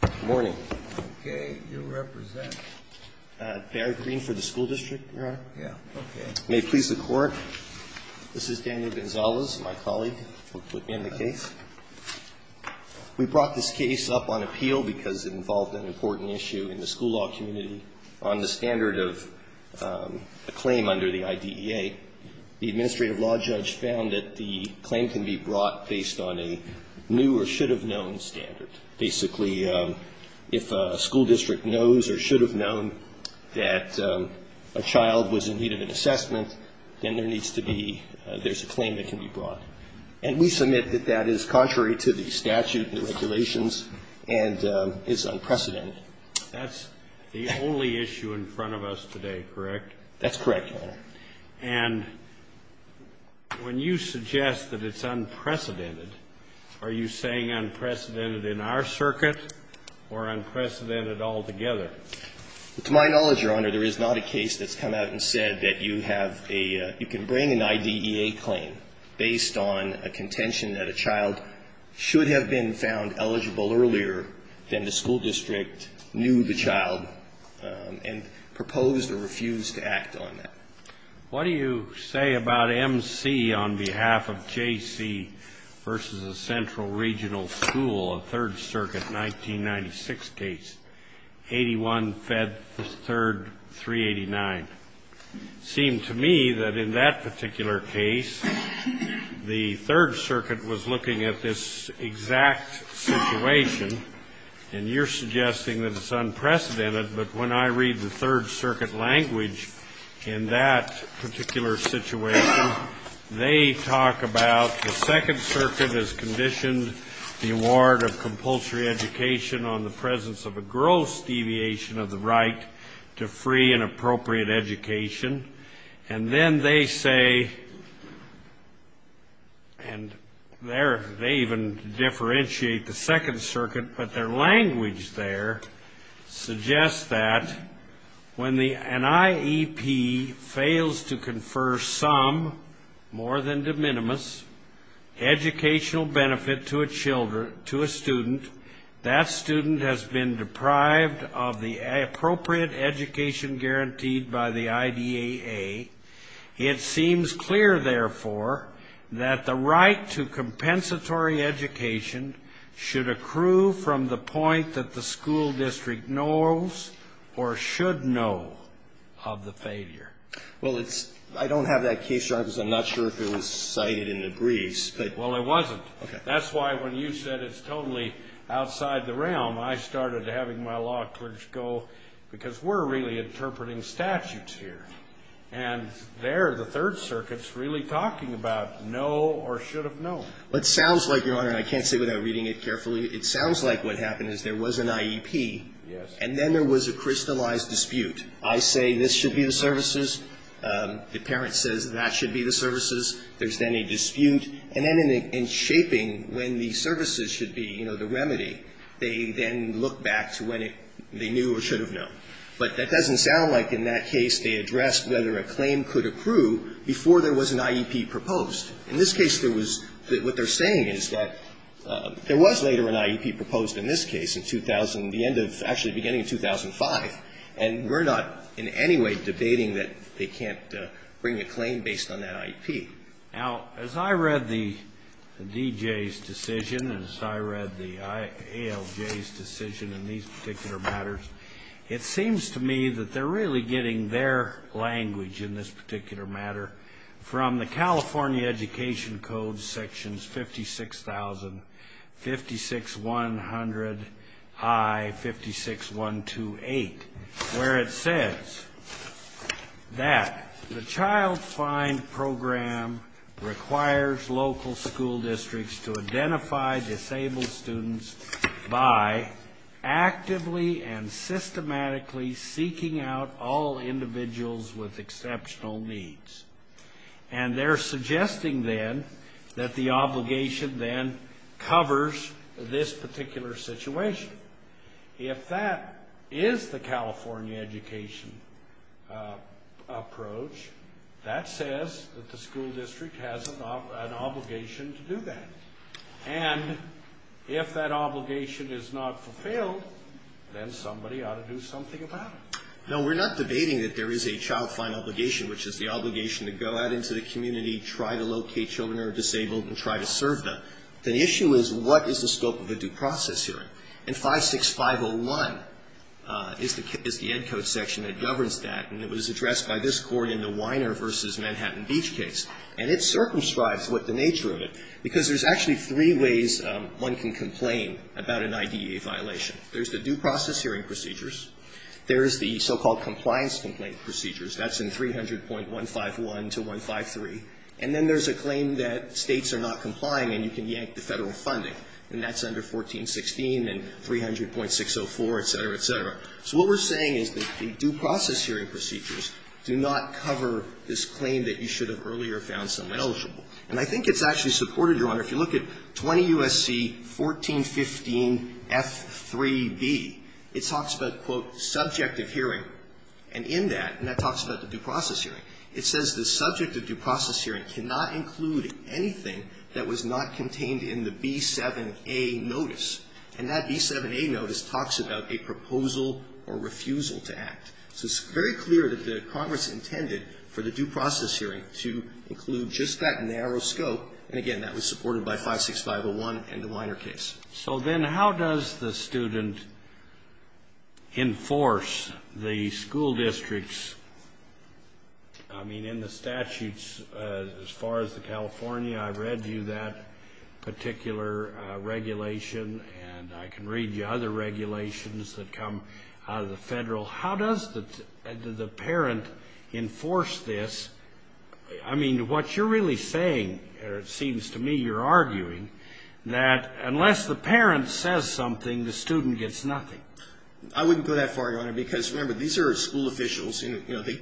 Good morning. Okay. You represent? Barry Green for the school district, Your Honor. Yeah. Okay. May it please the Court, this is Daniel Gonzalez, my colleague who put me on the case. We brought this case up on appeal because it involved an important issue in the school law community on the standard of a claim under the IDEA. The administrative law judge found that the claim can be brought based on a new or should have known that a child was in need of an assessment, then there needs to be, there's a claim that can be brought. And we submit that that is contrary to the statute and the regulations and is unprecedented. That's the only issue in front of us today, correct? That's correct, Your Honor. And when you suggest that it's unprecedented, are you saying unprecedented in our circuit or unprecedented altogether? To my knowledge, Your Honor, there is not a case that's come out and said that you have a, you can bring an IDEA claim based on a contention that a child should have been found eligible earlier than the school district knew the child and proposed or refused to act on that. What do you say about M.C. on behalf of J.C. v. The Central Regional School of Third Circuit's 1996 case, 81-Fed-3-389? It seemed to me that in that particular case, the Third Circuit was looking at this exact situation, and you're suggesting that it's unprecedented, but when I read the Third Circuit language in that particular situation, they talk about the Second Circuit has conditioned the award of compulsory education on the presence of a gross deviation of the right to free and appropriate education, and then they say, and they even differentiate the Second Circuit, but their language there suggests that when the NIEP fails to confer some, more good children to a student, that student has been deprived of the appropriate education guaranteed by the IDEA. It seems clear, therefore, that the right to compensatory education should accrue from the point that the school district knows or should know of the failure. Well, it's, I don't have that case, Your Honor, because I'm not sure if it was cited in the case, but I remember when you said it's totally outside the realm, I started having my law clerks go, because we're really interpreting statutes here, and there, the Third Circuit's really talking about know or should have known. It sounds like, Your Honor, and I can't say without reading it carefully, it sounds like what happened is there was an IEP. Yes. And then there was a crystallized dispute. I say this should be the services. The parent says that should be the services. There's then a dispute. And then in shaping when the services should be, you know, the remedy, they then look back to when it, they knew or should have known. But that doesn't sound like in that case they addressed whether a claim could accrue before there was an IEP proposed. In this case, there was, what they're saying is that there was later an IEP proposed in this case in 2000, the end of, actually the beginning of 2005, and we're not in any way debating that they can't bring a claim based on that IEP. Now, as I read the D.J.'s decision and as I read the ALJ's decision in these particular matters, it seems to me that they're really getting their language in this particular matter from the California Education Code, sections 56,000, 56-100, I, 56-128, where it says that the Child Find Program requires local school districts to identify disabled by actively and systematically seeking out all individuals with exceptional needs. And they're suggesting then that the obligation then covers this particular situation. If that is the California education approach, that says that the school district has an obligation to do that. And if that obligation is not fulfilled, then somebody ought to do something about it. No, we're not debating that there is a child find obligation, which is the obligation to go out into the community, try to locate children who are disabled, and try to serve them. The issue is what is the scope of a due process hearing? And 56-501 is the Ed Code section that governs that, and it was addressed by this Court in the Weiner v. Manhattan Beach case. And it circumscribes what the nature of it, because there's actually three ways one can complain about an IDEA violation. There's the due process hearing procedures. There's the so-called compliance complaint procedures. That's in 300.151 to 153. And then there's a claim that States are not complying, and you can yank the Federal funding, and that's under 1416 and 300.604, et cetera, et cetera. So what we're saying is that the due process hearing procedures do not cover this claim that you should have earlier found someone eligible. And I think it's actually supported, Your Honor. If you look at 20 U.S.C. 1415F3B, it talks about, quote, subject of hearing. And in that, and that talks about the due process hearing, it says the subject of due process hearing cannot include anything that was not contained in the B7A notice. And that B7A notice talks about a proposal or refusal to act. So it's very clear that the Congress intended for the due process hearing to include just that narrow scope. And, again, that was supported by 56501 and the Weiner case. So then how does the student enforce the school districts? I mean, in the statutes, as far as the California, I read you that particular regulation, and I can read you other regulations that come out of the Federal. How does the parent enforce this? I mean, what you're really saying, or it seems to me you're arguing, that unless the parent says something, the student gets nothing. I wouldn't go that far, Your Honor, because, remember, these are school officials, and, you know, they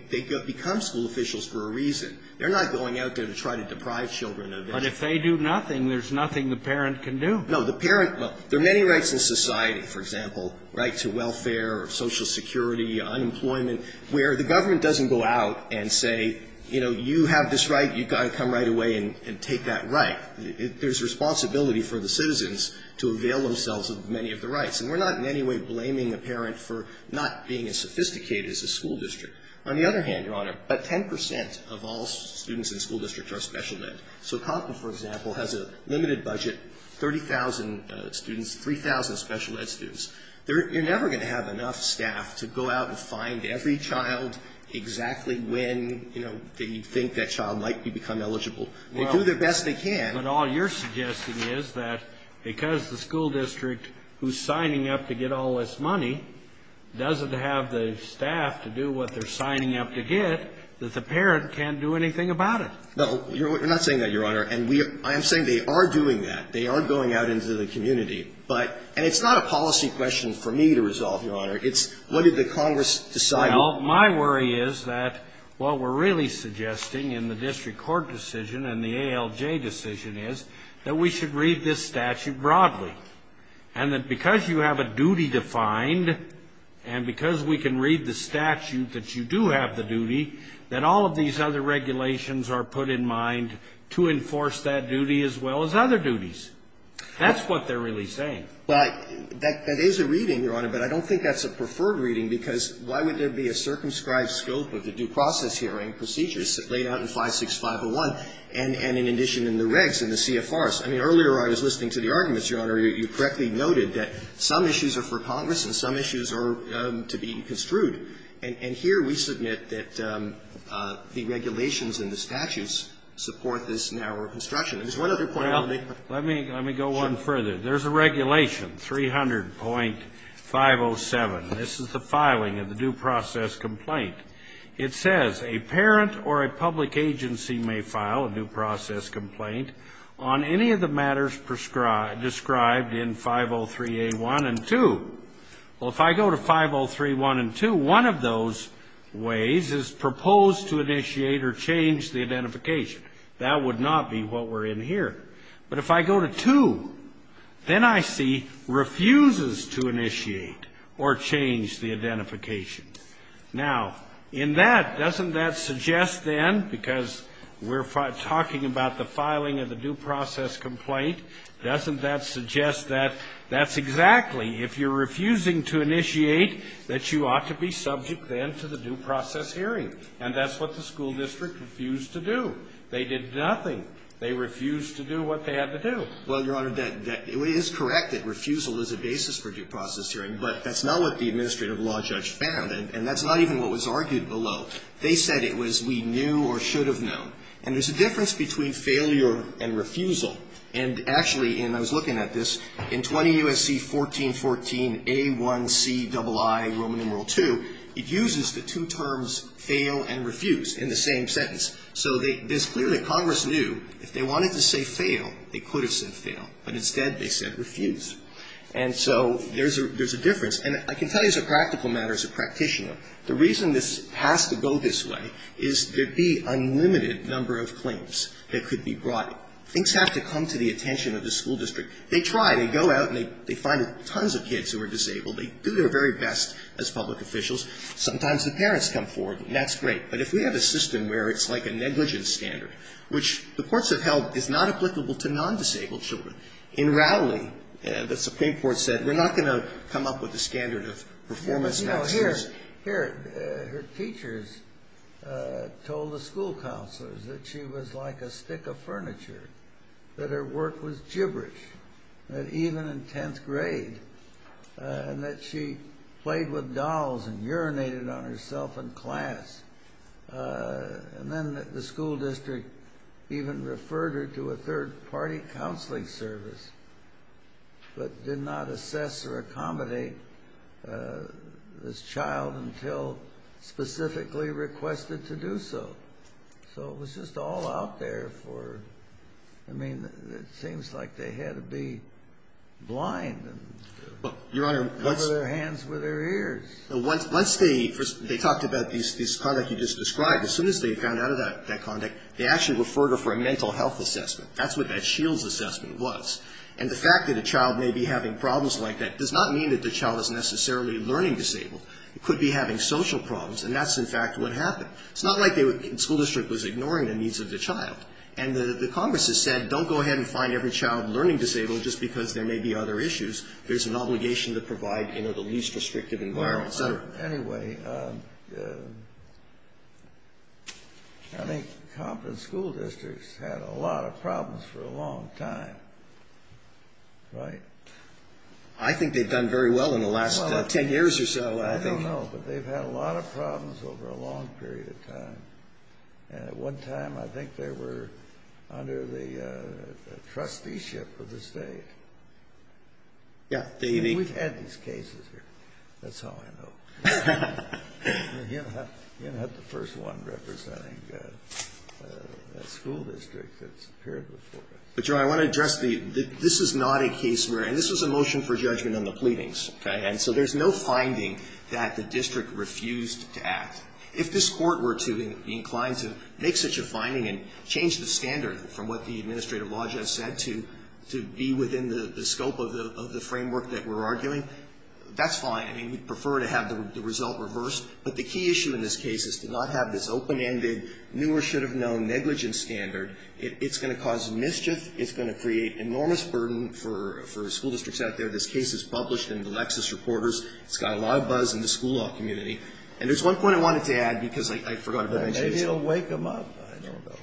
become school officials for a reason. They're not going out there to try to deprive children of anything. But if they do nothing, there's nothing the parent can do. No, the parent, well, there are many rights in society, for example, right, to welfare, social security, unemployment, where the government doesn't go out and say, you know, you have this right, you've got to come right away and take that right. There's responsibility for the citizens to avail themselves of many of the rights. And we're not in any way blaming a parent for not being as sophisticated as a school district. On the other hand, Your Honor, about 10 percent of all students in school districts are special ed. So Compton, for example, has a limited budget, 30,000 students, 3,000 special ed students. You're never going to have enough staff to go out and find every child exactly when, you know, they think that child might become eligible. They do their best they can. But all you're suggesting is that because the school district who's signing up to get all this money doesn't have the staff to do what they're signing up to get, that the parent can't do anything about it. No, you're not saying that, Your Honor. And I am saying they are doing that. They are going out into the community. And it's not a policy question for me to resolve, Your Honor. It's what did the Congress decide? Well, my worry is that what we're really suggesting in the district court decision and the ALJ decision is that we should read this statute broadly. And that because you have a duty defined and because we can read the statute that you do have the duty, that all of these other regulations are put in mind to enforce that duty as well as other duties. That's what they're really saying. Well, that is a reading, Your Honor. But I don't think that's a preferred reading, because why would there be a circumscribed scope of the due process hearing procedures laid out in 56501 and in addition in the regs and the CFRs? I mean, earlier I was listening to the arguments, Your Honor. You correctly noted that some issues are for Congress and some issues are to be construed. And here we submit that the regulations and the statutes support this narrower construction. Let me go one further. There's a regulation, 300.507. This is the filing of the due process complaint. It says a parent or a public agency may file a due process complaint on any of the matters prescribed in 503A1 and 2. Well, if I go to 503A1 and 2, one of those ways is proposed to initiate or change the identification. That would not be what we're in here. But if I go to 2, then I see refuses to initiate or change the identification. Now, in that, doesn't that suggest then, because we're talking about the filing of the due process complaint, doesn't that suggest that that's exactly, if you're refusing to initiate, that you ought to be subject then to the due process hearing? And that's what the school district refused to do. They did nothing. They refused to do what they had to do. Well, Your Honor, that is correct, that refusal is a basis for due process hearing. But that's not what the administrative law judge found. And that's not even what was argued below. They said it was we knew or should have known. And there's a difference between failure and refusal. And actually, and I was looking at this, in 20 U.S.C. 1414A1CII, Roman numeral 2, it uses the two terms fail and refuse in the same sentence. So this clearly Congress knew if they wanted to say fail, they could have said fail. But instead, they said refuse. And so there's a difference. And I can tell you as a practical matter, as a practitioner, the reason this has to go this way is there'd be unlimited number of claims that could be brought. Things have to come to the attention of the school district. They try. They go out and they find tons of kids who are disabled. They do their very best as public officials. Sometimes the parents come forward. And that's great. But if we have a system where it's like a negligence standard, which the courts have held is not applicable to non-disabled children. In Rowley, the Supreme Court said we're not going to come up with a standard of performance next year. Here, her teachers told the school counselors that she was like a stick of furniture. That her work was gibberish. That even in 10th grade, that she played with dolls and urinated on herself in class. And then the school district even referred her to a third-party counseling service, but did not assess or accommodate this child until specifically requested to do so. So it was just all out there for her. I mean, it seems like they had to be blind and cover their hands with their ears. Once they talked about this conduct you just described, as soon as they found out of that conduct, they actually referred her for a mental health assessment. That's what that Shields assessment was. And the fact that a child may be having problems like that does not mean that the child is necessarily learning disabled. It could be having social problems. And that's, in fact, what happened. It's not like the school district was ignoring the needs of the child. And the Congress has said, don't go ahead and find every child learning disabled just because there may be other issues. There's an obligation to provide the least restrictive environment. Well, anyway, I think competent school districts had a lot of problems for a long time, right? I think they've done very well in the last 10 years or so, I think. I don't know, but they've had a lot of problems over a long period of time. And at one time I think they were under the trusteeship of the state. Yeah. We've had these cases here. That's all I know. You don't have the first one representing a school district that's appeared before us. But, Joe, I want to address the ‑‑ this is not a case where ‑‑ and this was a motion for judgment on the pleadings. Okay. And so there's no finding that the district refused to act. If this court were to be inclined to make such a finding and change the standard from what the administrative law just said to be within the scope of the framework that we're arguing, that's fine. I mean, we'd prefer to have the result reversed. But the key issue in this case is to not have this open‑ended, new or should have known, negligent standard. It's going to cause mischief. It's going to create enormous burden for school districts out there. This case is published in the Lexis Reporters. It's got a lot of buzz in the school law community. And there's one point I wanted to add because I forgot about it. Maybe it'll wake them up. I don't know.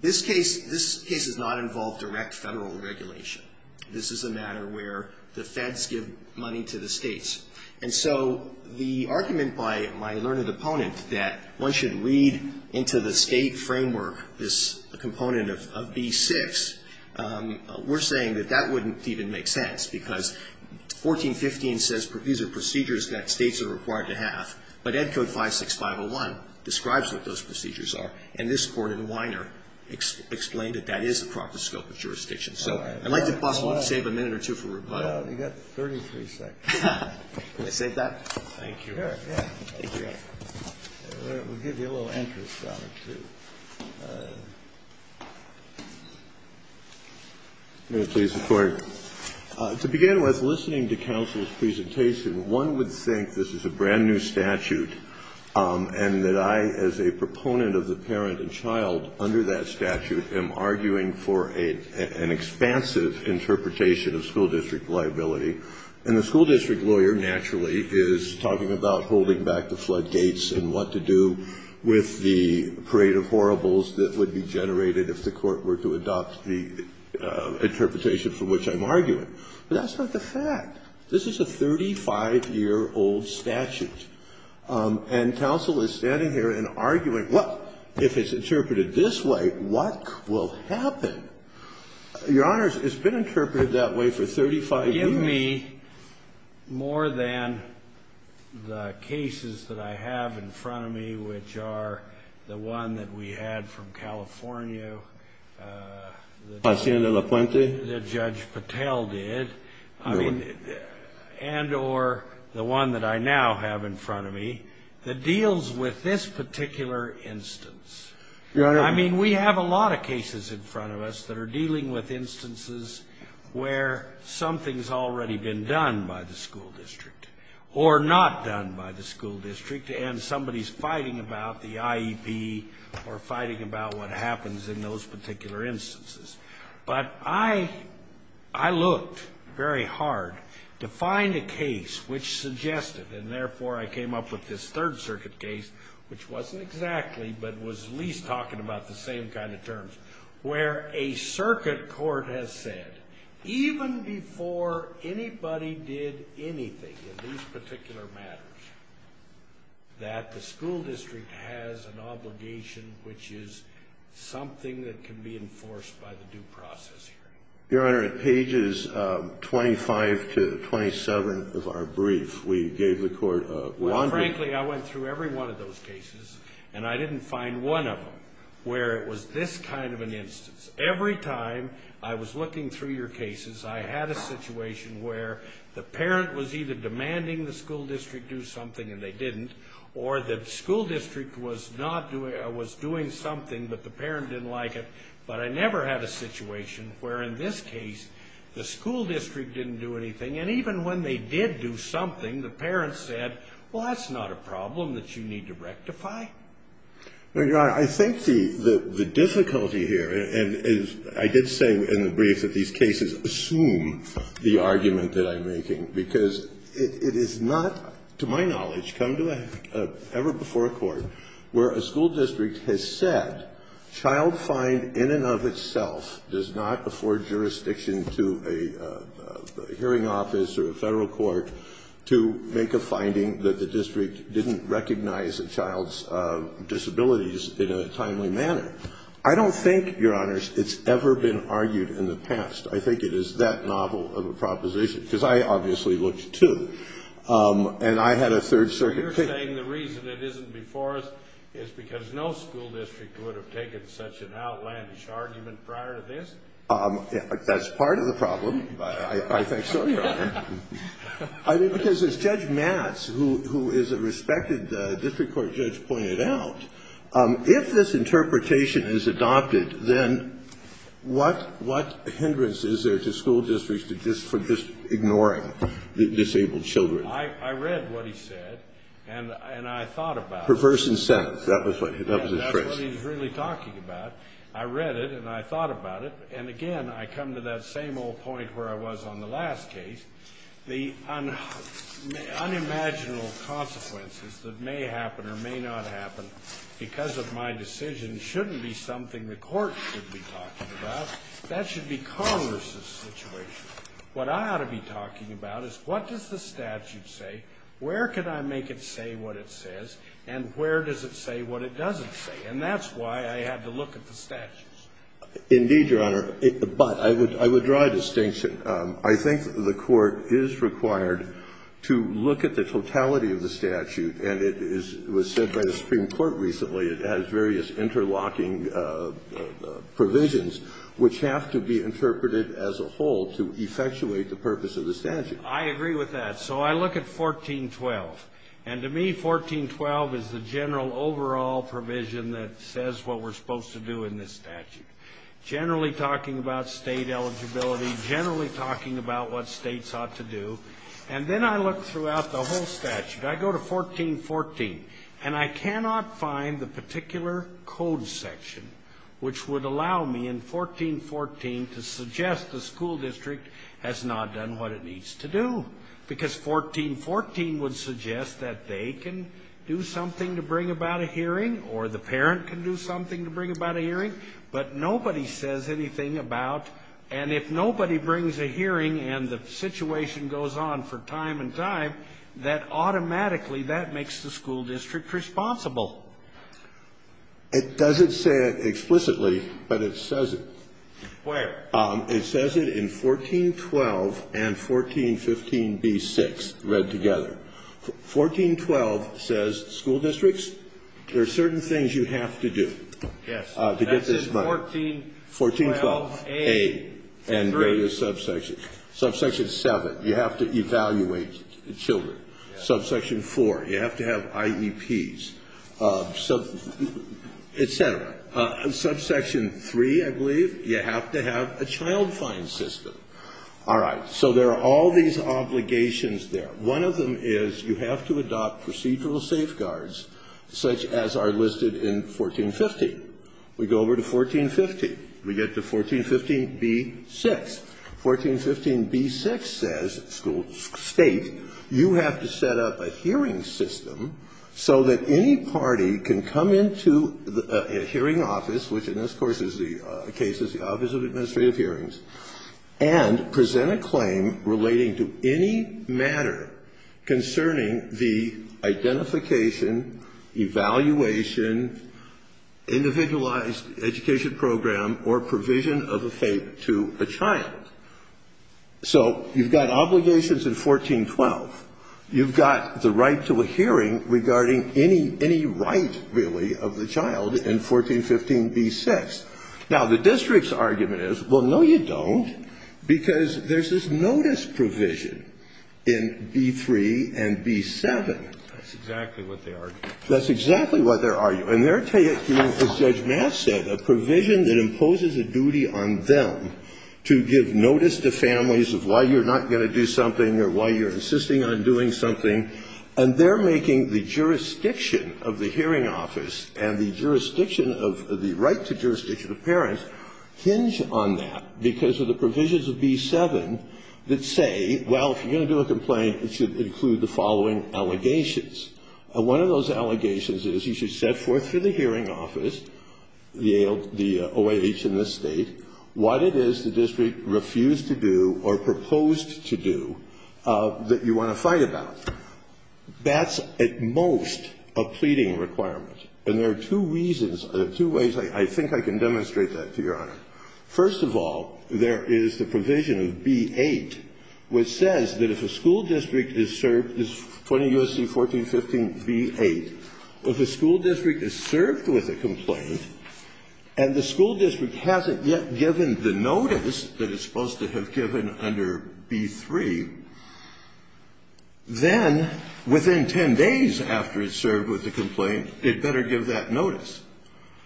This case ‑‑ this case does not involve direct federal regulation. This is a matter where the feds give money to the states. And so the argument by my learned opponent that one should read into the state framework this component of B6, we're saying that that wouldn't even make sense because 1415 says these are procedures that states are required to have. But Ed Code 56501 describes what those procedures are. And this Court in Weiner explained that that is the proper scope of jurisdiction. So I'd like to possibly save a minute or two for rebuttal. No, you've got 33 seconds. Can I save that? Thank you. Sure, yeah. We'll give you a little interest on it, too. I'm going to please the Court. To begin with, listening to counsel's presentation, one would think this is a brand-new statute and that I as a proponent of the parent and child under that statute am arguing for an expansive interpretation of school district liability. And the school district lawyer, naturally, is talking about holding back the floodgates and what to do with the parade of horribles that would be generated if the Court were to adopt the interpretation for which I'm arguing. But that's not the fact. This is a 35-year-old statute. And counsel is standing here and arguing, well, if it's interpreted this way, what will happen? Your Honors, it's been interpreted that way for 35 years. Forgive me more than the cases that I have in front of me, which are the one that we had from California that Judge Patel did and or the one that I now have in front of me that deals with this particular instance. Your Honor. I mean, we have a lot of cases in front of us that are dealing with instances where something's already been done by the school district or not done by the school district and somebody's fighting about the IEP or fighting about what happens in those particular instances. But I looked very hard to find a case which suggested, and therefore I came up with this Third Circuit case, which wasn't exactly but was at least talking about the same kind of anybody did anything in these particular matters, that the school district has an obligation which is something that can be enforced by the due process hearing. Your Honor, at pages 25 to 27 of our brief, we gave the court a laundry list. Well, frankly, I went through every one of those cases, and I didn't find one of them where it was this kind of an instance. Every time I was looking through your cases, I had a situation where the parent was either demanding the school district do something and they didn't, or the school district was doing something but the parent didn't like it. But I never had a situation where in this case the school district didn't do anything. And even when they did do something, the parent said, well, that's not a problem that you need to rectify. Now, Your Honor, I think the difficulty here, and I did say in the brief that these cases assume the argument that I'm making, because it is not, to my knowledge, come to an ever-before court where a school district has said, child find in and of itself does not afford jurisdiction to a hearing office or a Federal court to make a finding that the district didn't recognize a child's disabilities in a timely manner. I don't think, Your Honor, it's ever been argued in the past. I think it is that novel of a proposition, because I obviously looked, too, and I had a Third Circuit case. You're saying the reason it isn't before us is because no school district would have taken such an outlandish argument prior to this? That's part of the problem. I think so, Your Honor. I mean, because as Judge Matz, who is a respected district court judge, pointed out, if this interpretation is adopted, then what hindrance is there to school districts for just ignoring disabled children? I read what he said, and I thought about it. Perverse incentives. That was his phrase. Yes, that's what he was really talking about. I read it, and I thought about it. And again, I come to that same old point where I was on the last case. The unimaginable consequences that may happen or may not happen because of my decision shouldn't be something the court should be talking about. That should be Congress's situation. What I ought to be talking about is what does the statute say, where can I make it say what it says, and where does it say what it doesn't say? And that's why I had to look at the statutes. Indeed, Your Honor. But I would draw a distinction. I think the court is required to look at the totality of the statute, and it was said by the Supreme Court recently, it has various interlocking provisions which have to be interpreted as a whole to effectuate the purpose of the statute. I agree with that. So I look at 1412. And to me, 1412 is the general overall provision that says what we're supposed to do in this statute, generally talking about state eligibility, generally talking about what states ought to do. And then I look throughout the whole statute. I go to 1414, and I cannot find the particular code section which would allow me, in 1414, to suggest the school district has not done what it needs to do because 1414 would suggest that they can do something to bring about a hearing or the parent can do something to bring about a hearing, but nobody says anything about. And if nobody brings a hearing and the situation goes on for time and time, that automatically that makes the school district responsible. It doesn't say it explicitly, but it says it. Where? It says it in 1412 and 1415b6 read together. 1412 says school districts, there are certain things you have to do to get this money. 1412a and various subsections. Subsection 7, you have to evaluate children. Subsection 4, you have to have IEPs, et cetera. Subsection 3, I believe, you have to have a child fine system. All right. So there are all these obligations there. One of them is you have to adopt procedural safeguards such as are listed in 1415. We go over to 1415. We get to 1415b6. 1415b6 says, school state, you have to set up a hearing system so that any party can come into a hearing office, which in this case is the Office of Administrative Hearings, and present a claim relating to any matter concerning the identification, evaluation, individualized education program, or provision of a fate to a child. So you've got obligations in 1412. You've got the right to a hearing regarding any right, really, of the child in 1415b6. Now, the district's argument is, well, no, you don't, because there's this notice provision in b3 and b7. That's exactly what they argue. That's exactly what they argue. And they're taking, as Judge Maas said, a provision that imposes a duty on them to give notice to families of why you're not going to do something or why you're insisting on doing something, and they're making the jurisdiction of the hearing office and the jurisdiction of the right to jurisdiction of parents hinge on that because of the provisions of b7 that say, well, if you're going to do a complaint, it should include the following allegations. One of those allegations is you should set forth to the hearing office, the OIH in this State, what it is the district refused to do or proposed to do that you want to fight about. That's at most a pleading requirement. And there are two reasons, two ways I think I can demonstrate that to Your Honor. First of all, there is the provision of b8, which says that if a school district is served, 20 U.S.C. 1415b8, if a school district is served with a complaint and the school district hasn't yet given the notice that it's supposed to have given under b3, then within 10 days after it's served with the complaint, it better give that notice.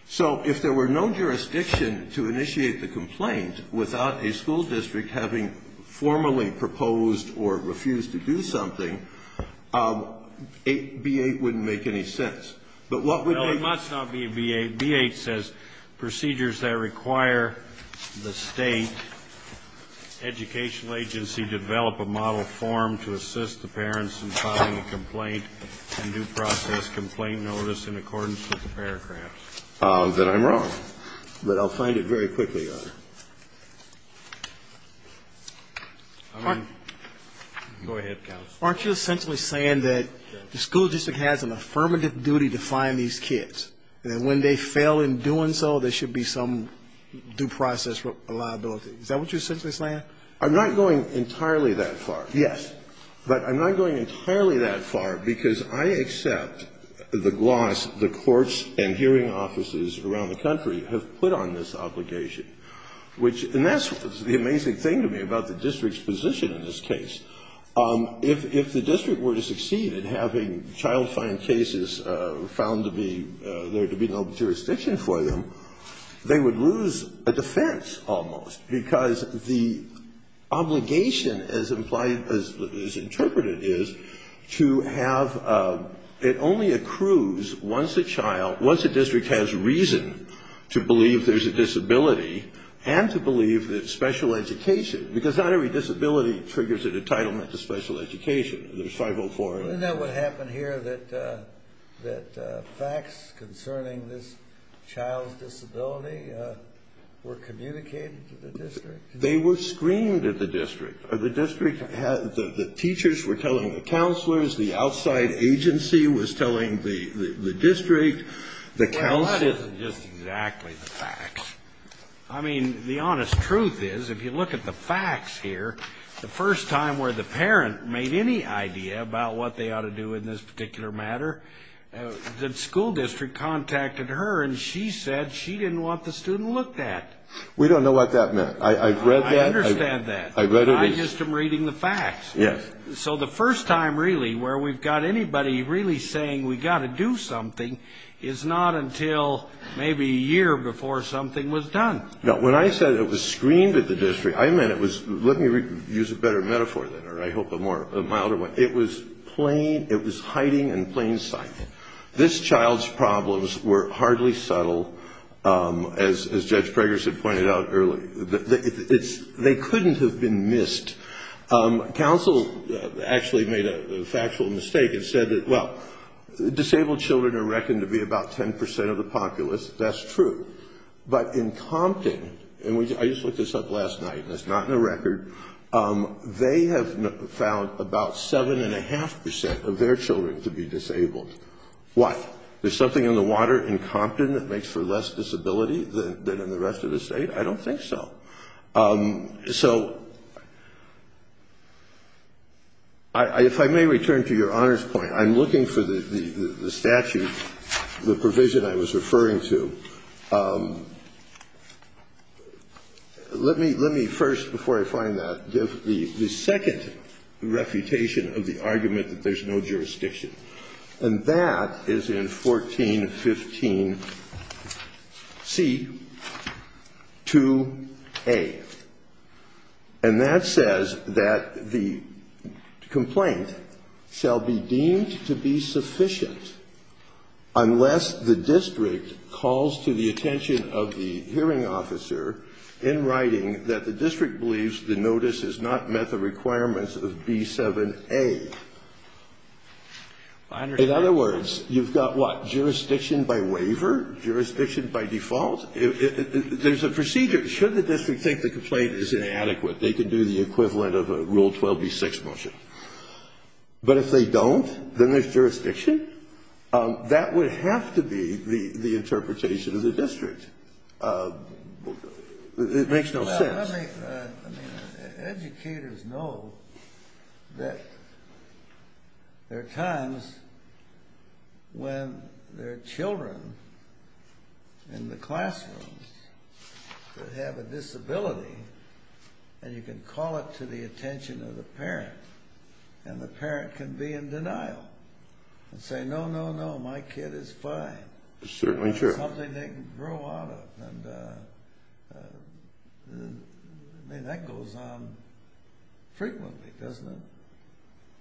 So if there were no jurisdiction to initiate the complaint without a school district having formally proposed or refused to do something, b8 wouldn't make any sense. But what would make sense? If it's not b8, b8 says procedures that require the State educational agency develop a model form to assist the parents in filing a complaint and due process complaint notice in accordance with the paragraphs. That I'm wrong. But I'll find it very quickly, Your Honor. Go ahead, counsel. Aren't you essentially saying that the school district has an affirmative duty to find these kids, and that when they fail in doing so, there should be some due process liability? Is that what you're essentially saying? I'm not going entirely that far. Yes. But I'm not going entirely that far, because I accept the gloss the courts and hearing offices around the country have put on this obligation. And that's the amazing thing to me about the district's position in this case. If the district were to succeed in having child fine cases found to be there to be no jurisdiction for them, they would lose a defense almost, because the obligation as implied, as interpreted is, to have, it only accrues once a child, once a district has reason to believe there's a disability and to believe that special education, because not every disability triggers an entitlement to special education. There's 504. Isn't that what happened here, that facts concerning this child's disability were communicated to the district? They were screened at the district. The district had, the teachers were telling the counselors, the outside agency was telling the district, the counselors. Well, that isn't just exactly the facts. I mean, the honest truth is, if you look at the facts here, the first time where the parent made any idea about what they ought to do in this particular matter, the school district contacted her and she said she didn't want the student looked at. We don't know what that meant. I've read that. I understand that. I've read it. I'm just reading the facts. Yes. So the first time, really, where we've got anybody really saying we've got to do something is not until maybe a year before something was done. Now, when I said it was screened at the district, I meant it was, let me use a better metaphor than that, or I hope a more, a milder one. It was plain, it was hiding in plain sight. This child's problems were hardly subtle, as Judge Preggers had pointed out earlier. They couldn't have been missed. Counsel actually made a factual mistake and said that, well, disabled children are reckoned to be about 10% of the populace. That's true. But in Compton, and I just looked this up last night and it's not in the record, they have found about 7.5% of their children to be disabled. Why? There's something in the water in Compton that makes for less disability than in the rest of the state? I don't think so. So if I may return to Your Honor's point, I'm looking for the statute, the provision I was referring to. Let me, let me first, before I find that, give the second refutation of the argument that there's no jurisdiction. And that is in 1415C, 2. And that says that the complaint shall be deemed to be sufficient unless the district calls to the attention of the hearing officer in writing that the district believes the notice has not met the requirements of B7A. In other words, you've got what? Jurisdiction by waiver? Jurisdiction by default? There's a procedure. Should the district think the complaint is inadequate, they can do the equivalent of a Rule 12B6 motion. But if they don't, then there's jurisdiction? That would have to be the interpretation of the district. It makes no sense. Educators know that there are times when there are children in the classrooms that have a disability, and you can call it to the attention of the parent, and the parent can be in denial and say, no, no, no, my kid is fine. That's certainly true. Something they can grow out of. And that goes on frequently, doesn't it?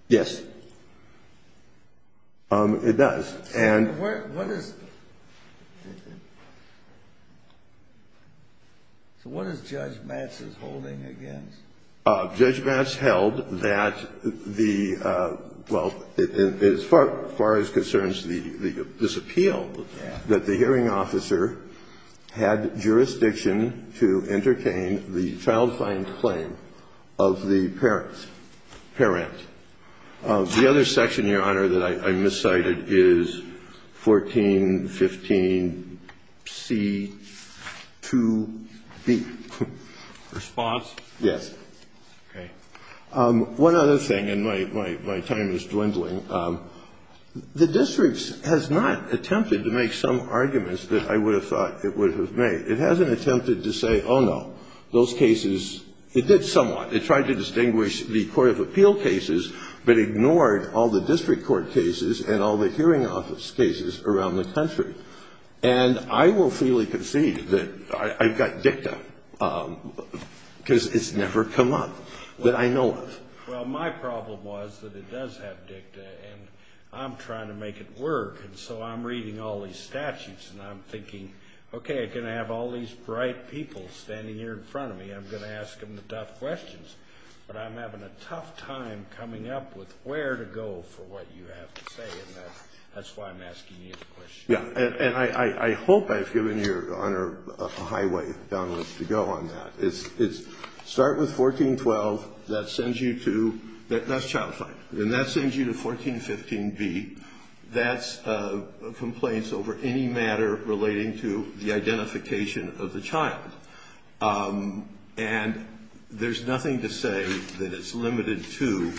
Yes. It does. So what is Judge Matz's holding against? Judge Matz held that the, well, as far as concerns the disappeal, that the hearing officer had jurisdiction to entertain the child fine claim of the parent. The other section, Your Honor, that I miscited is 1415C2B. Response? Yes. Okay. One other thing, and my time is dwindling. The district has not attempted to make some arguments that I would have thought it would have made. It hasn't attempted to say, oh, no, those cases, it did somewhat. It tried to distinguish the court of appeal cases, but ignored all the district court cases and all the hearing office cases around the country. And I will freely concede that I've got dicta, because it's never come up that I know of. Well, my problem was that it does have dicta, and I'm trying to make it work. And so I'm reading all these statutes, and I'm thinking, okay, I'm going to have all these bright people standing here in front of me. I'm going to ask them the tough questions. But I'm having a tough time coming up with where to go for what you have to say. And that's why I'm asking you the question. Yes. And I hope I've given Your Honor a highway down the list to go on that. Start with 1412. That sends you to 1415B. That's complaints over any matter relating to the identification of the child. And there's nothing to say that it's limited to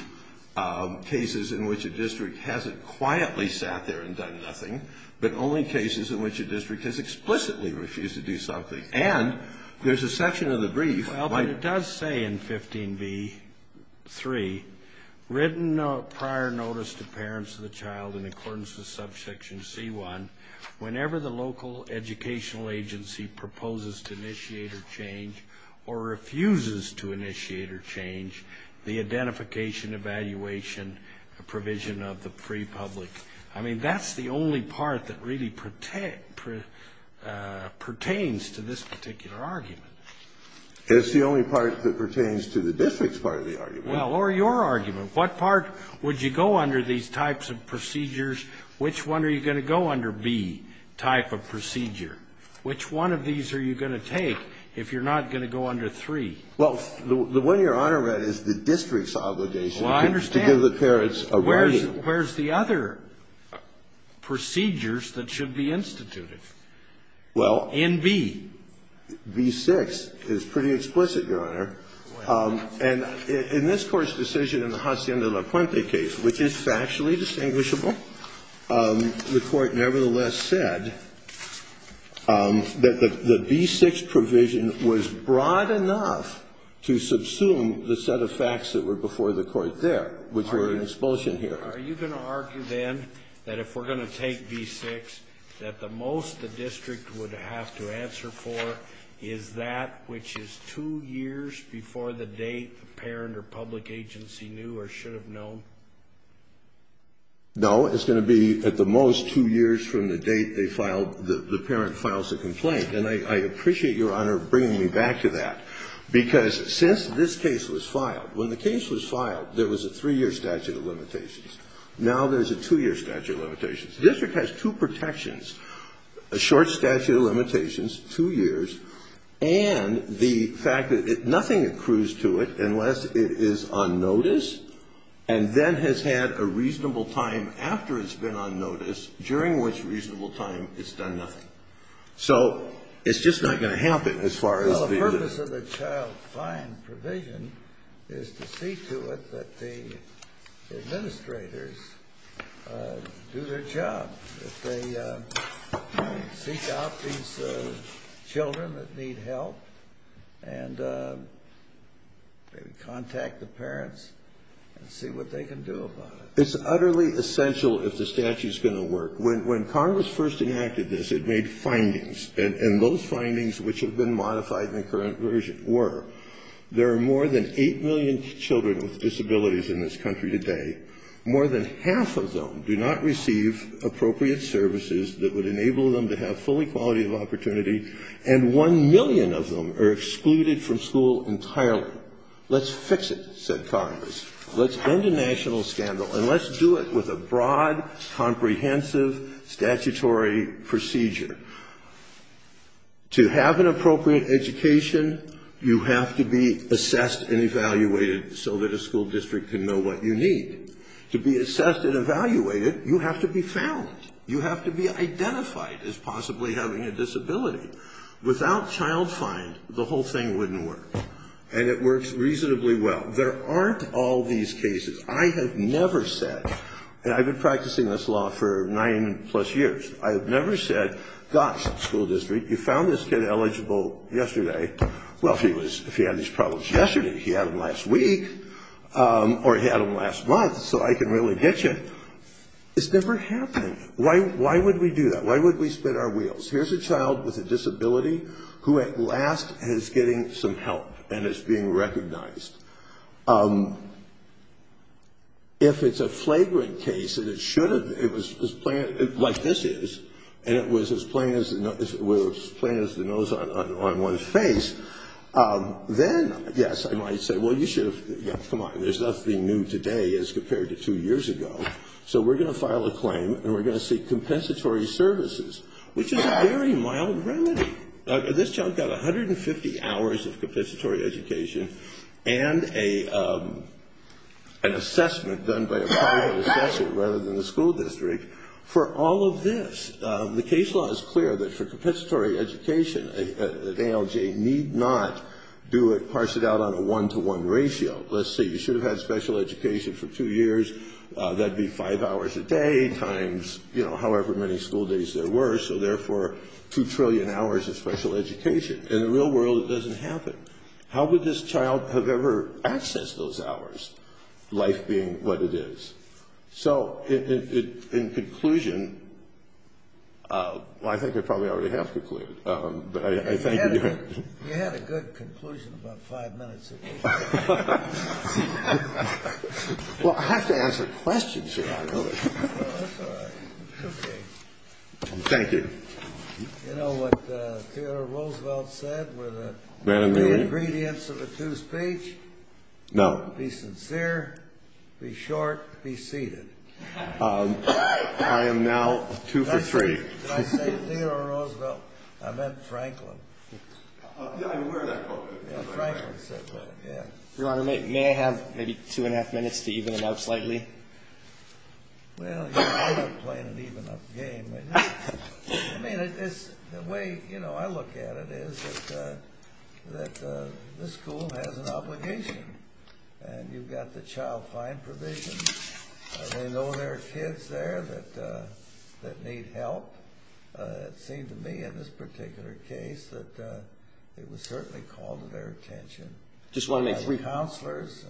cases in which a district hasn't quietly sat there and done nothing, but only cases in which a district has explicitly refused to do something. And there's a section of the brief. Well, but it does say in 15B.3, written prior notice to parents of the child in accordance with subsection C1, whenever the local educational agency proposes to initiate a change or refuses to initiate a change, the identification, evaluation, provision of the free public. I mean, that's the only part that really pertains to this particular argument. It's the only part that pertains to the district's part of the argument. Well, or your argument. What part would you go under these types of procedures? Which one are you going to go under, B, type of procedure? Which one of these are you going to take if you're not going to go under 3? Well, the one Your Honor read is the district's obligation to give the parents a ready. Well, I understand. Where's the other procedures that should be instituted? Well. In B. B.6 is pretty explicit, Your Honor. And in this Court's decision in the Hacienda La Puente case, which is factually distinguishable, the Court nevertheless said that the B.6 provision was broad enough to subsume the set of facts that were before the Court there, which were an expulsion hearing. Are you going to argue, then, that if we're going to take B.6, that the most the district would have to answer for is that which is two years before the date the parent or public agency knew or should have known? No. It's going to be, at the most, two years from the date they filed the parent files a complaint. And I appreciate Your Honor bringing me back to that, because since this case was filed, when the case was filed, there was a three-year statute of limitations. Now there's a two-year statute of limitations. The district has two protections, a short statute of limitations, two years, and the fact that nothing accrues to it unless it is on notice and then has had a reasonable time after it's been on notice during which reasonable time it's done nothing. So it's just not going to happen as far as the other. Well, the purpose of the child fine provision is to see to it that the administrators do their job, that they seek out these children that need help and maybe contact the parents and see what they can do about it. It's utterly essential if the statute is going to work. When Congress first enacted this, it made findings. And those findings, which have been modified in the current version, were there are more than 8 million children with disabilities in this country today, more than half of them do not receive appropriate services that would enable them to have full equality of opportunity, and 1 million of them are excluded from school entirely. Let's fix it, said Congress. Let's end a national scandal, and let's do it with a broad, comprehensive, statutory procedure. To have an appropriate education, you have to be assessed and evaluated so that a school district can know what you need. To be assessed and evaluated, you have to be found. You have to be identified as possibly having a disability. Without child fine, the whole thing wouldn't work. And it works reasonably well. There aren't all these cases. I have never said, and I've been practicing this law for nine plus years, I have never said, gosh, school district, you found this kid eligible yesterday. Well, if he had these problems yesterday, he had them last week, or he had them last month, so I can really get you. It's never happened. Why would we do that? Why would we spin our wheels? Here's a child with a disability who at last is getting some help and is being recognized. If it's a flagrant case and it should have been, like this is, and it was as plain as the nose on one's face, then, yes, I might say, well, you should have, come on, there's nothing new today as compared to two years ago. So we're going to file a claim, and we're going to seek compensatory services, which is a very mild remedy. This child got 150 hours of compensatory education and an assessment done by a private assessor rather than the school district for all of this. The case law is clear that for compensatory education, that ALJ need not do it, parse it out on a one-to-one ratio. Let's say you should have had special education for two years. That would be five hours a day times, you know, however many school days there were, so therefore two trillion hours of special education. In the real world, it doesn't happen. How would this child have ever accessed those hours, life being what it is? So in conclusion, well, I think I probably already have concluded, but I thank you. You had a good conclusion about five minutes ago. Well, I have to answer questions here. That's all right. Okay. Thank you. You know what Theodore Roosevelt said with the two ingredients of a two-speech? No. Be sincere, be short, be seated. I am now two for three. Did I say Theodore Roosevelt? I meant Franklin. Yeah, I'm aware of that quote. Franklin said that, yeah. Your Honor, may I have maybe two and a half minutes to even it out slightly? Well, you know, I'm not playing an even-up game. I mean, the way, you know, I look at it is that this school has an obligation, and you've got the child fine provision. They know there are kids there that need help. It seemed to me in this particular case that it was certainly called to their attention. Just want to make sure. By the counselors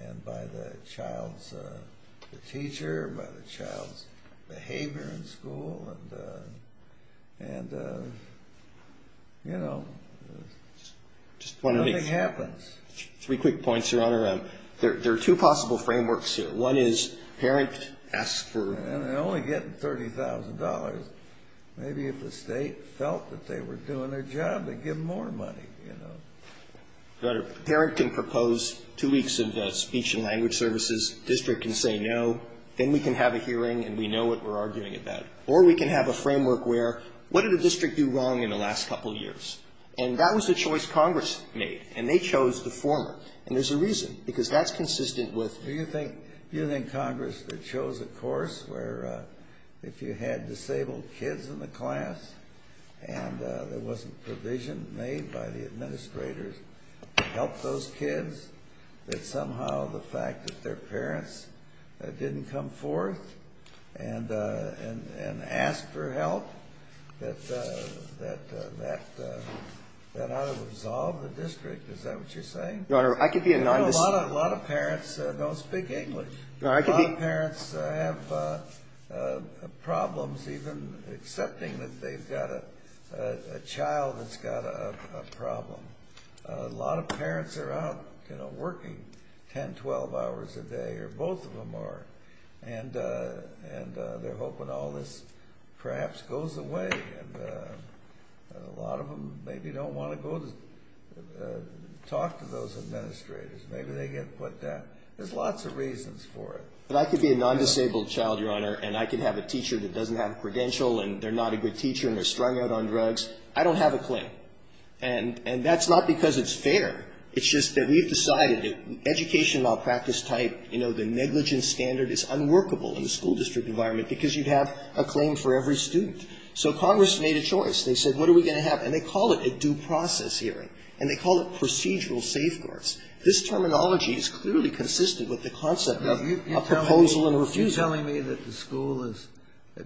and by the child's teacher, by the child's behavior in school, and, you know, nothing happens. Just want to make three quick points, Your Honor. There are two possible frameworks here. One is parent asks for... They're only getting $30,000. Maybe if the state felt that they were doing their job, they'd give them more money, you know. Your Honor, parent can propose two weeks of speech and language services. District can say no. Then we can have a hearing, and we know what we're arguing about. Or we can have a framework where, what did the district do wrong in the last couple of years? And that was a choice Congress made, and they chose the former. And there's a reason, because that's consistent with... Do you think Congress chose a course where if you had disabled kids in the class and there wasn't provision made by the administrators to help those kids, that somehow the fact that their parents didn't come forth and ask for help, that that ought to resolve the district? Is that what you're saying? Your Honor, I could be an... A lot of parents don't speak English. A lot of parents have problems even accepting that they've got a child that's got a problem. A lot of parents are out working 10, 12 hours a day, or both of them are, and they're hoping all this perhaps goes away. A lot of them maybe don't want to go talk to those administrators. Maybe they get put down. There's lots of reasons for it. But I could be a non-disabled child, Your Honor, and I could have a teacher that doesn't have a credential, and they're not a good teacher, and they're strung out on drugs. I don't have a claim. And that's not because it's fair. It's just that we've decided that education while practice type, you know, the negligence standard is unworkable in the school district environment because you'd have a claim for every student. So Congress made a choice. They said, what are we going to have? And they call it a due process hearing. And they call it procedural safeguards. This terminology is clearly consistent with the concept of a proposal and a refusal. You're telling me that the school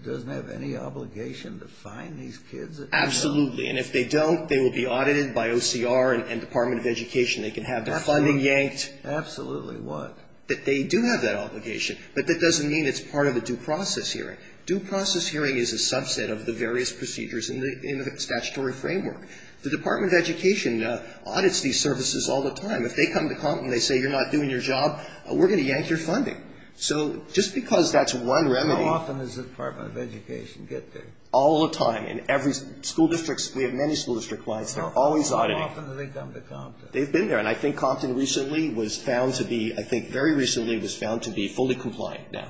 doesn't have any obligation to find these kids? Absolutely. And if they don't, they will be audited by OCR and Department of Education. They can have their funding yanked. Absolutely what? That they do have that obligation. But that doesn't mean it's part of a due process hearing. Due process hearing is a subset of the various procedures in the statutory framework. The Department of Education audits these services all the time. If they come to Compton, they say you're not doing your job, we're going to yank your funding. So just because that's one remedy. How often does the Department of Education get there? All the time. In every school district. We have many school district clients. They're always auditing. How often do they come to Compton? They've been there. And I think Compton recently was found to be, I think very recently was found to be fully compliant now.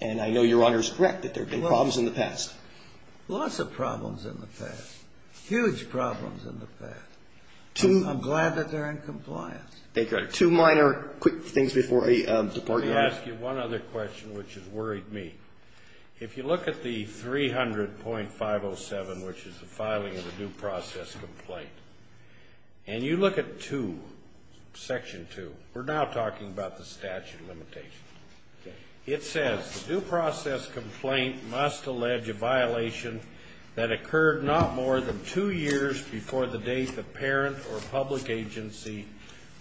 And I know Your Honor is correct that there have been problems in the past. Lots of problems in the past. Huge problems in the past. I'm glad that they're in compliance. Two minor quick things before we depart, Your Honor. Let me ask you one other question which has worried me. If you look at the 300.507, which is the filing of a due process complaint, and you look at 2, section 2, we're now talking about the statute of limitations. It says, Due process complaint must allege a violation that occurred not more than two years before the date the parent or public agency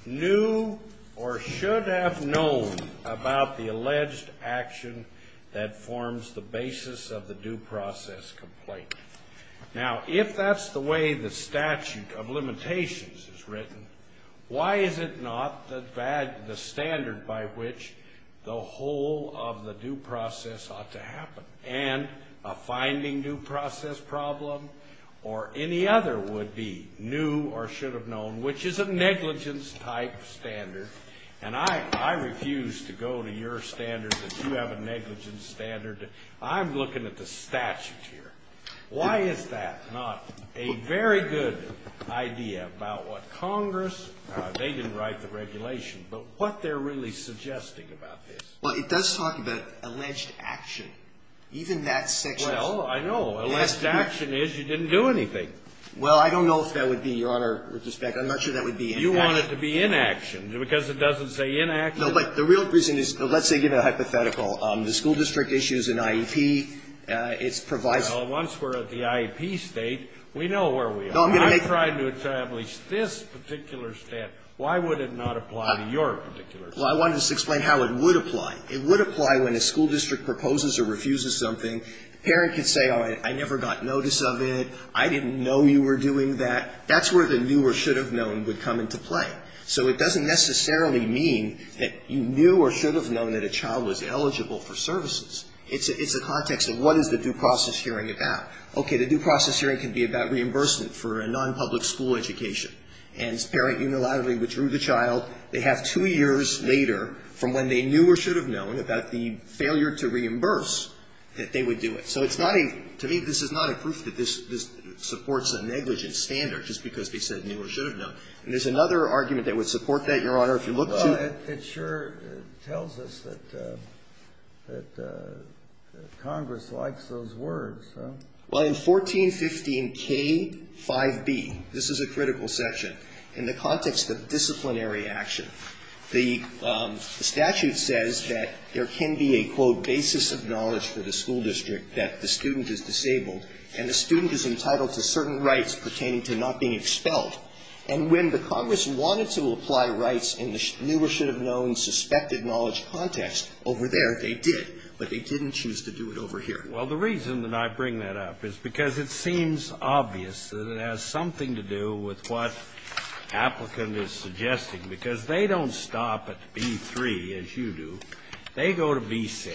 knew or should have known about the alleged action that forms the basis of the due process complaint. Now, if that's the way the statute of limitations is written, why is it not the standard by which the whole of the due process ought to happen? And a finding due process problem or any other would be new or should have known, which is a negligence type standard. And I refuse to go to your standard that you have a negligence standard. I'm looking at the statute here. Why is that not a very good idea about what Congress, they didn't write the regulation, but what they're really suggesting about this? Well, it does talk about alleged action. Even that section. Well, I know. Alleged action is you didn't do anything. Well, I don't know if that would be, Your Honor, with respect. I'm not sure that would be inaction. You want it to be inaction, because it doesn't say inaction. No, but the real reason is, let's say, give a hypothetical. The school district issues an IEP. Well, once we're at the IEP state, we know where we are. I'm trying to establish this particular stat. Why would it not apply to your particular state? Well, I wanted to explain how it would apply. It would apply when a school district proposes or refuses something. The parent could say, oh, I never got notice of it. I didn't know you were doing that. That's where the new or should have known would come into play. So it doesn't necessarily mean that you knew or should have known that a child was eligible for services. It's a context of what is the due process hearing about. Okay, the due process hearing can be about reimbursement for a nonpublic school education. And this parent unilaterally withdrew the child. They have two years later from when they knew or should have known about the failure to reimburse that they would do it. So it's not a to me this is not a proof that this supports a negligence standard just because they said knew or should have known. And there's another argument that would support that, Your Honor, if you look to. Well, it sure tells us that Congress likes those words. Well, in 1415K5B, this is a critical section. In the context of disciplinary action, the statute says that there can be a, quote, basis of knowledge for the school district that the student is disabled and the student is entitled to certain rights pertaining to not being expelled. And when the Congress wanted to apply rights in the knew or should have known suspected knowledge context over there, they did. But they didn't choose to do it over here. Well, the reason that I bring that up is because it seems obvious that it has something to do with what the applicant is suggesting, because they don't stop at B3, as you do. They go to B6.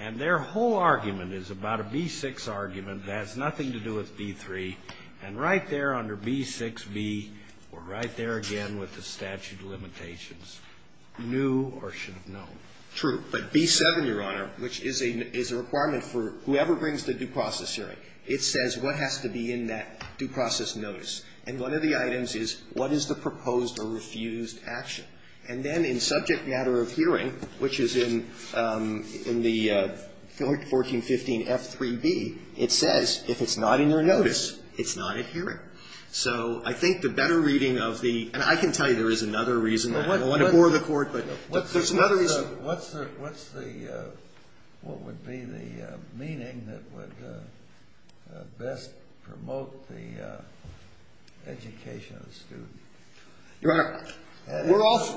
And their whole argument is about a B6 argument that has nothing to do with B3. And right there under B6B, we're right there again with the statute of limitations. Knew or should have known. True. But B7, Your Honor, which is a requirement for whoever brings the due process hearing, it says what has to be in that due process notice. And one of the items is what is the proposed or refused action. And then in subject matter of hearing, which is in the 1415F3B, it says if it's not in your notice, it's not a hearing. So I think the better reading of the ‑‑ and I can tell you there is another reason. I don't want to bore the Court, but there's another reason. What's the ‑‑ what would be the meaning that would best promote the education of the student? Your Honor,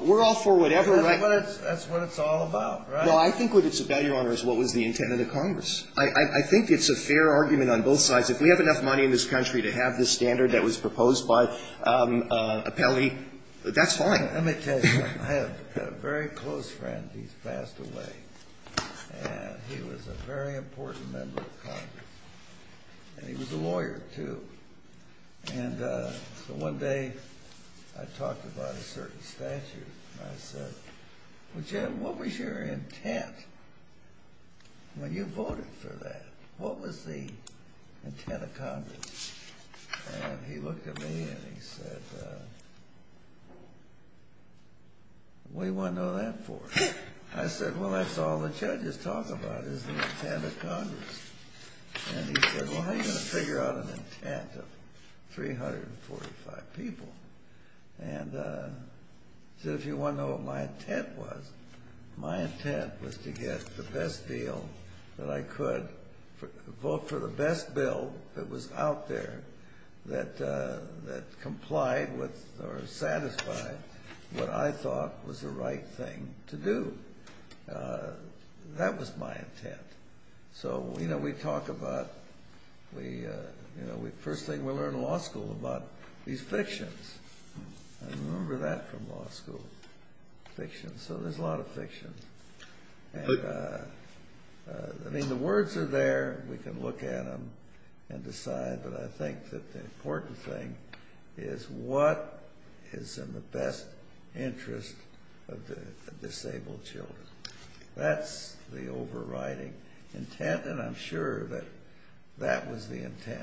we're all for whatever ‑‑ That's what it's all about, right? Well, I think what it's about, Your Honor, is what was the intent of the Congress. I think it's a fair argument on both sides. If we have enough money in this country to have this standard that was proposed by Appelli, that's fine. Let me tell you something. I have a very close friend. He's passed away. And he was a very important member of Congress. And he was a lawyer, too. And so one day I talked about a certain statute. And I said, well, Jim, what was your intent when you voted for that? What was the intent of Congress? And he looked at me and he said, well, what do you want to know that for? I said, well, that's all the judges talk about is the intent of Congress. And he said, well, how are you going to figure out an intent of 345 people? And I said, if you want to know what my intent was, my intent was to get the best deal that I could, vote for the best bill that was out there that complied with or satisfied what I thought was the right thing to do. That was my intent. So, you know, we talk about the first thing we learn in law school about these fictions. I remember that from law school, fictions. So there's a lot of fictions. I mean, the words are there. We can look at them and decide. But I think that the important thing is what is in the best interest of the disabled children. That's the overriding intent. And I'm sure that that was the intent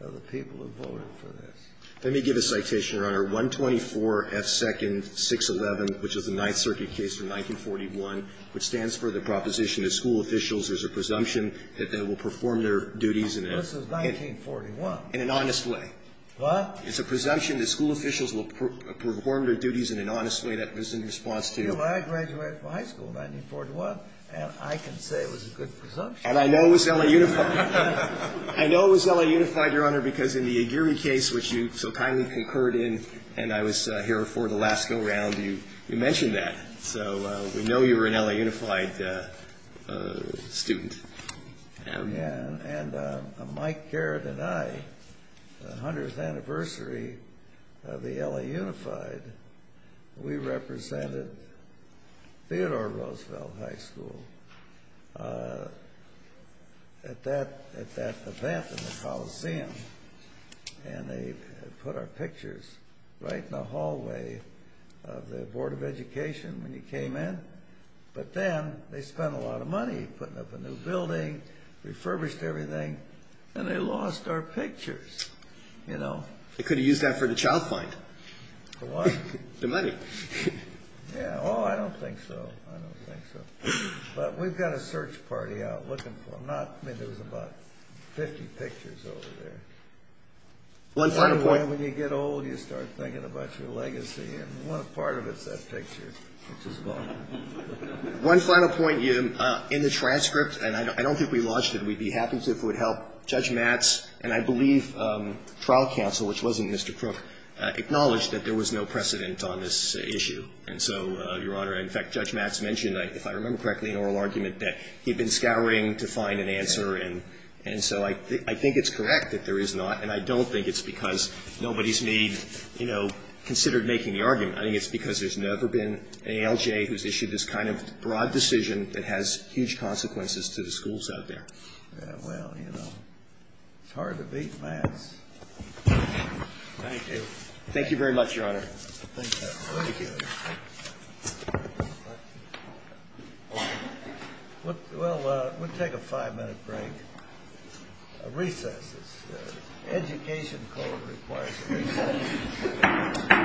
of the people who voted for this. Let me give a citation, Your Honor. 124 F. 2nd. 611, which is the Ninth Circuit case from 1941, which stands for the proposition that school officials, there's a presumption that they will perform their duties and This is 1941. In an honest way. What? It's a presumption that school officials will perform their duties in an honest way. That was in response to Well, I graduated from high school in 1941, and I can say it was a good presumption. And I know it was L.A. Unified. I know it was L.A. Unified, Your Honor, because in the Aguirre case, which you so kindly concurred in, and I was here for the last go-round, you mentioned that. So we know you were an L.A. Unified student. And Mike, Garrett, and I, the 100th anniversary of the L.A. Unified, we represented Theodore Roosevelt High School at that event in the Coliseum. And they put our pictures right in the hallway of the Board of Education when you came in. But then they spent a lot of money putting up a new building, refurbished everything, and they lost our pictures, you know? They could have used that for the child find. For what? The money. Yeah. Oh, I don't think so. I don't think so. But we've got a search party out looking for them. I mean, there was about 50 pictures over there. One final point. One final point. In the transcript, and I don't think we launched it, we'd be happy to if it would help, Judge Matz and I believe trial counsel, which wasn't Mr. Crook, acknowledged that there was no precedent on this issue. And so, Your Honor, in fact, Judge Matz mentioned, if I remember correctly, an oral argument that he had been scouring to find an answer. And so I think it's correct that there is not, and I don't think it's because nobody's made, you know, considered making the argument. I think it's because there's never been an ALJ who's issued this kind of broad decision that has huge consequences to the schools out there. Yeah, well, you know, it's hard to beat Matz. Thank you. Thank you very much, Your Honor. Thank you. Thank you. Well, we'll take a five-minute break. A recess. Education code requires a recess.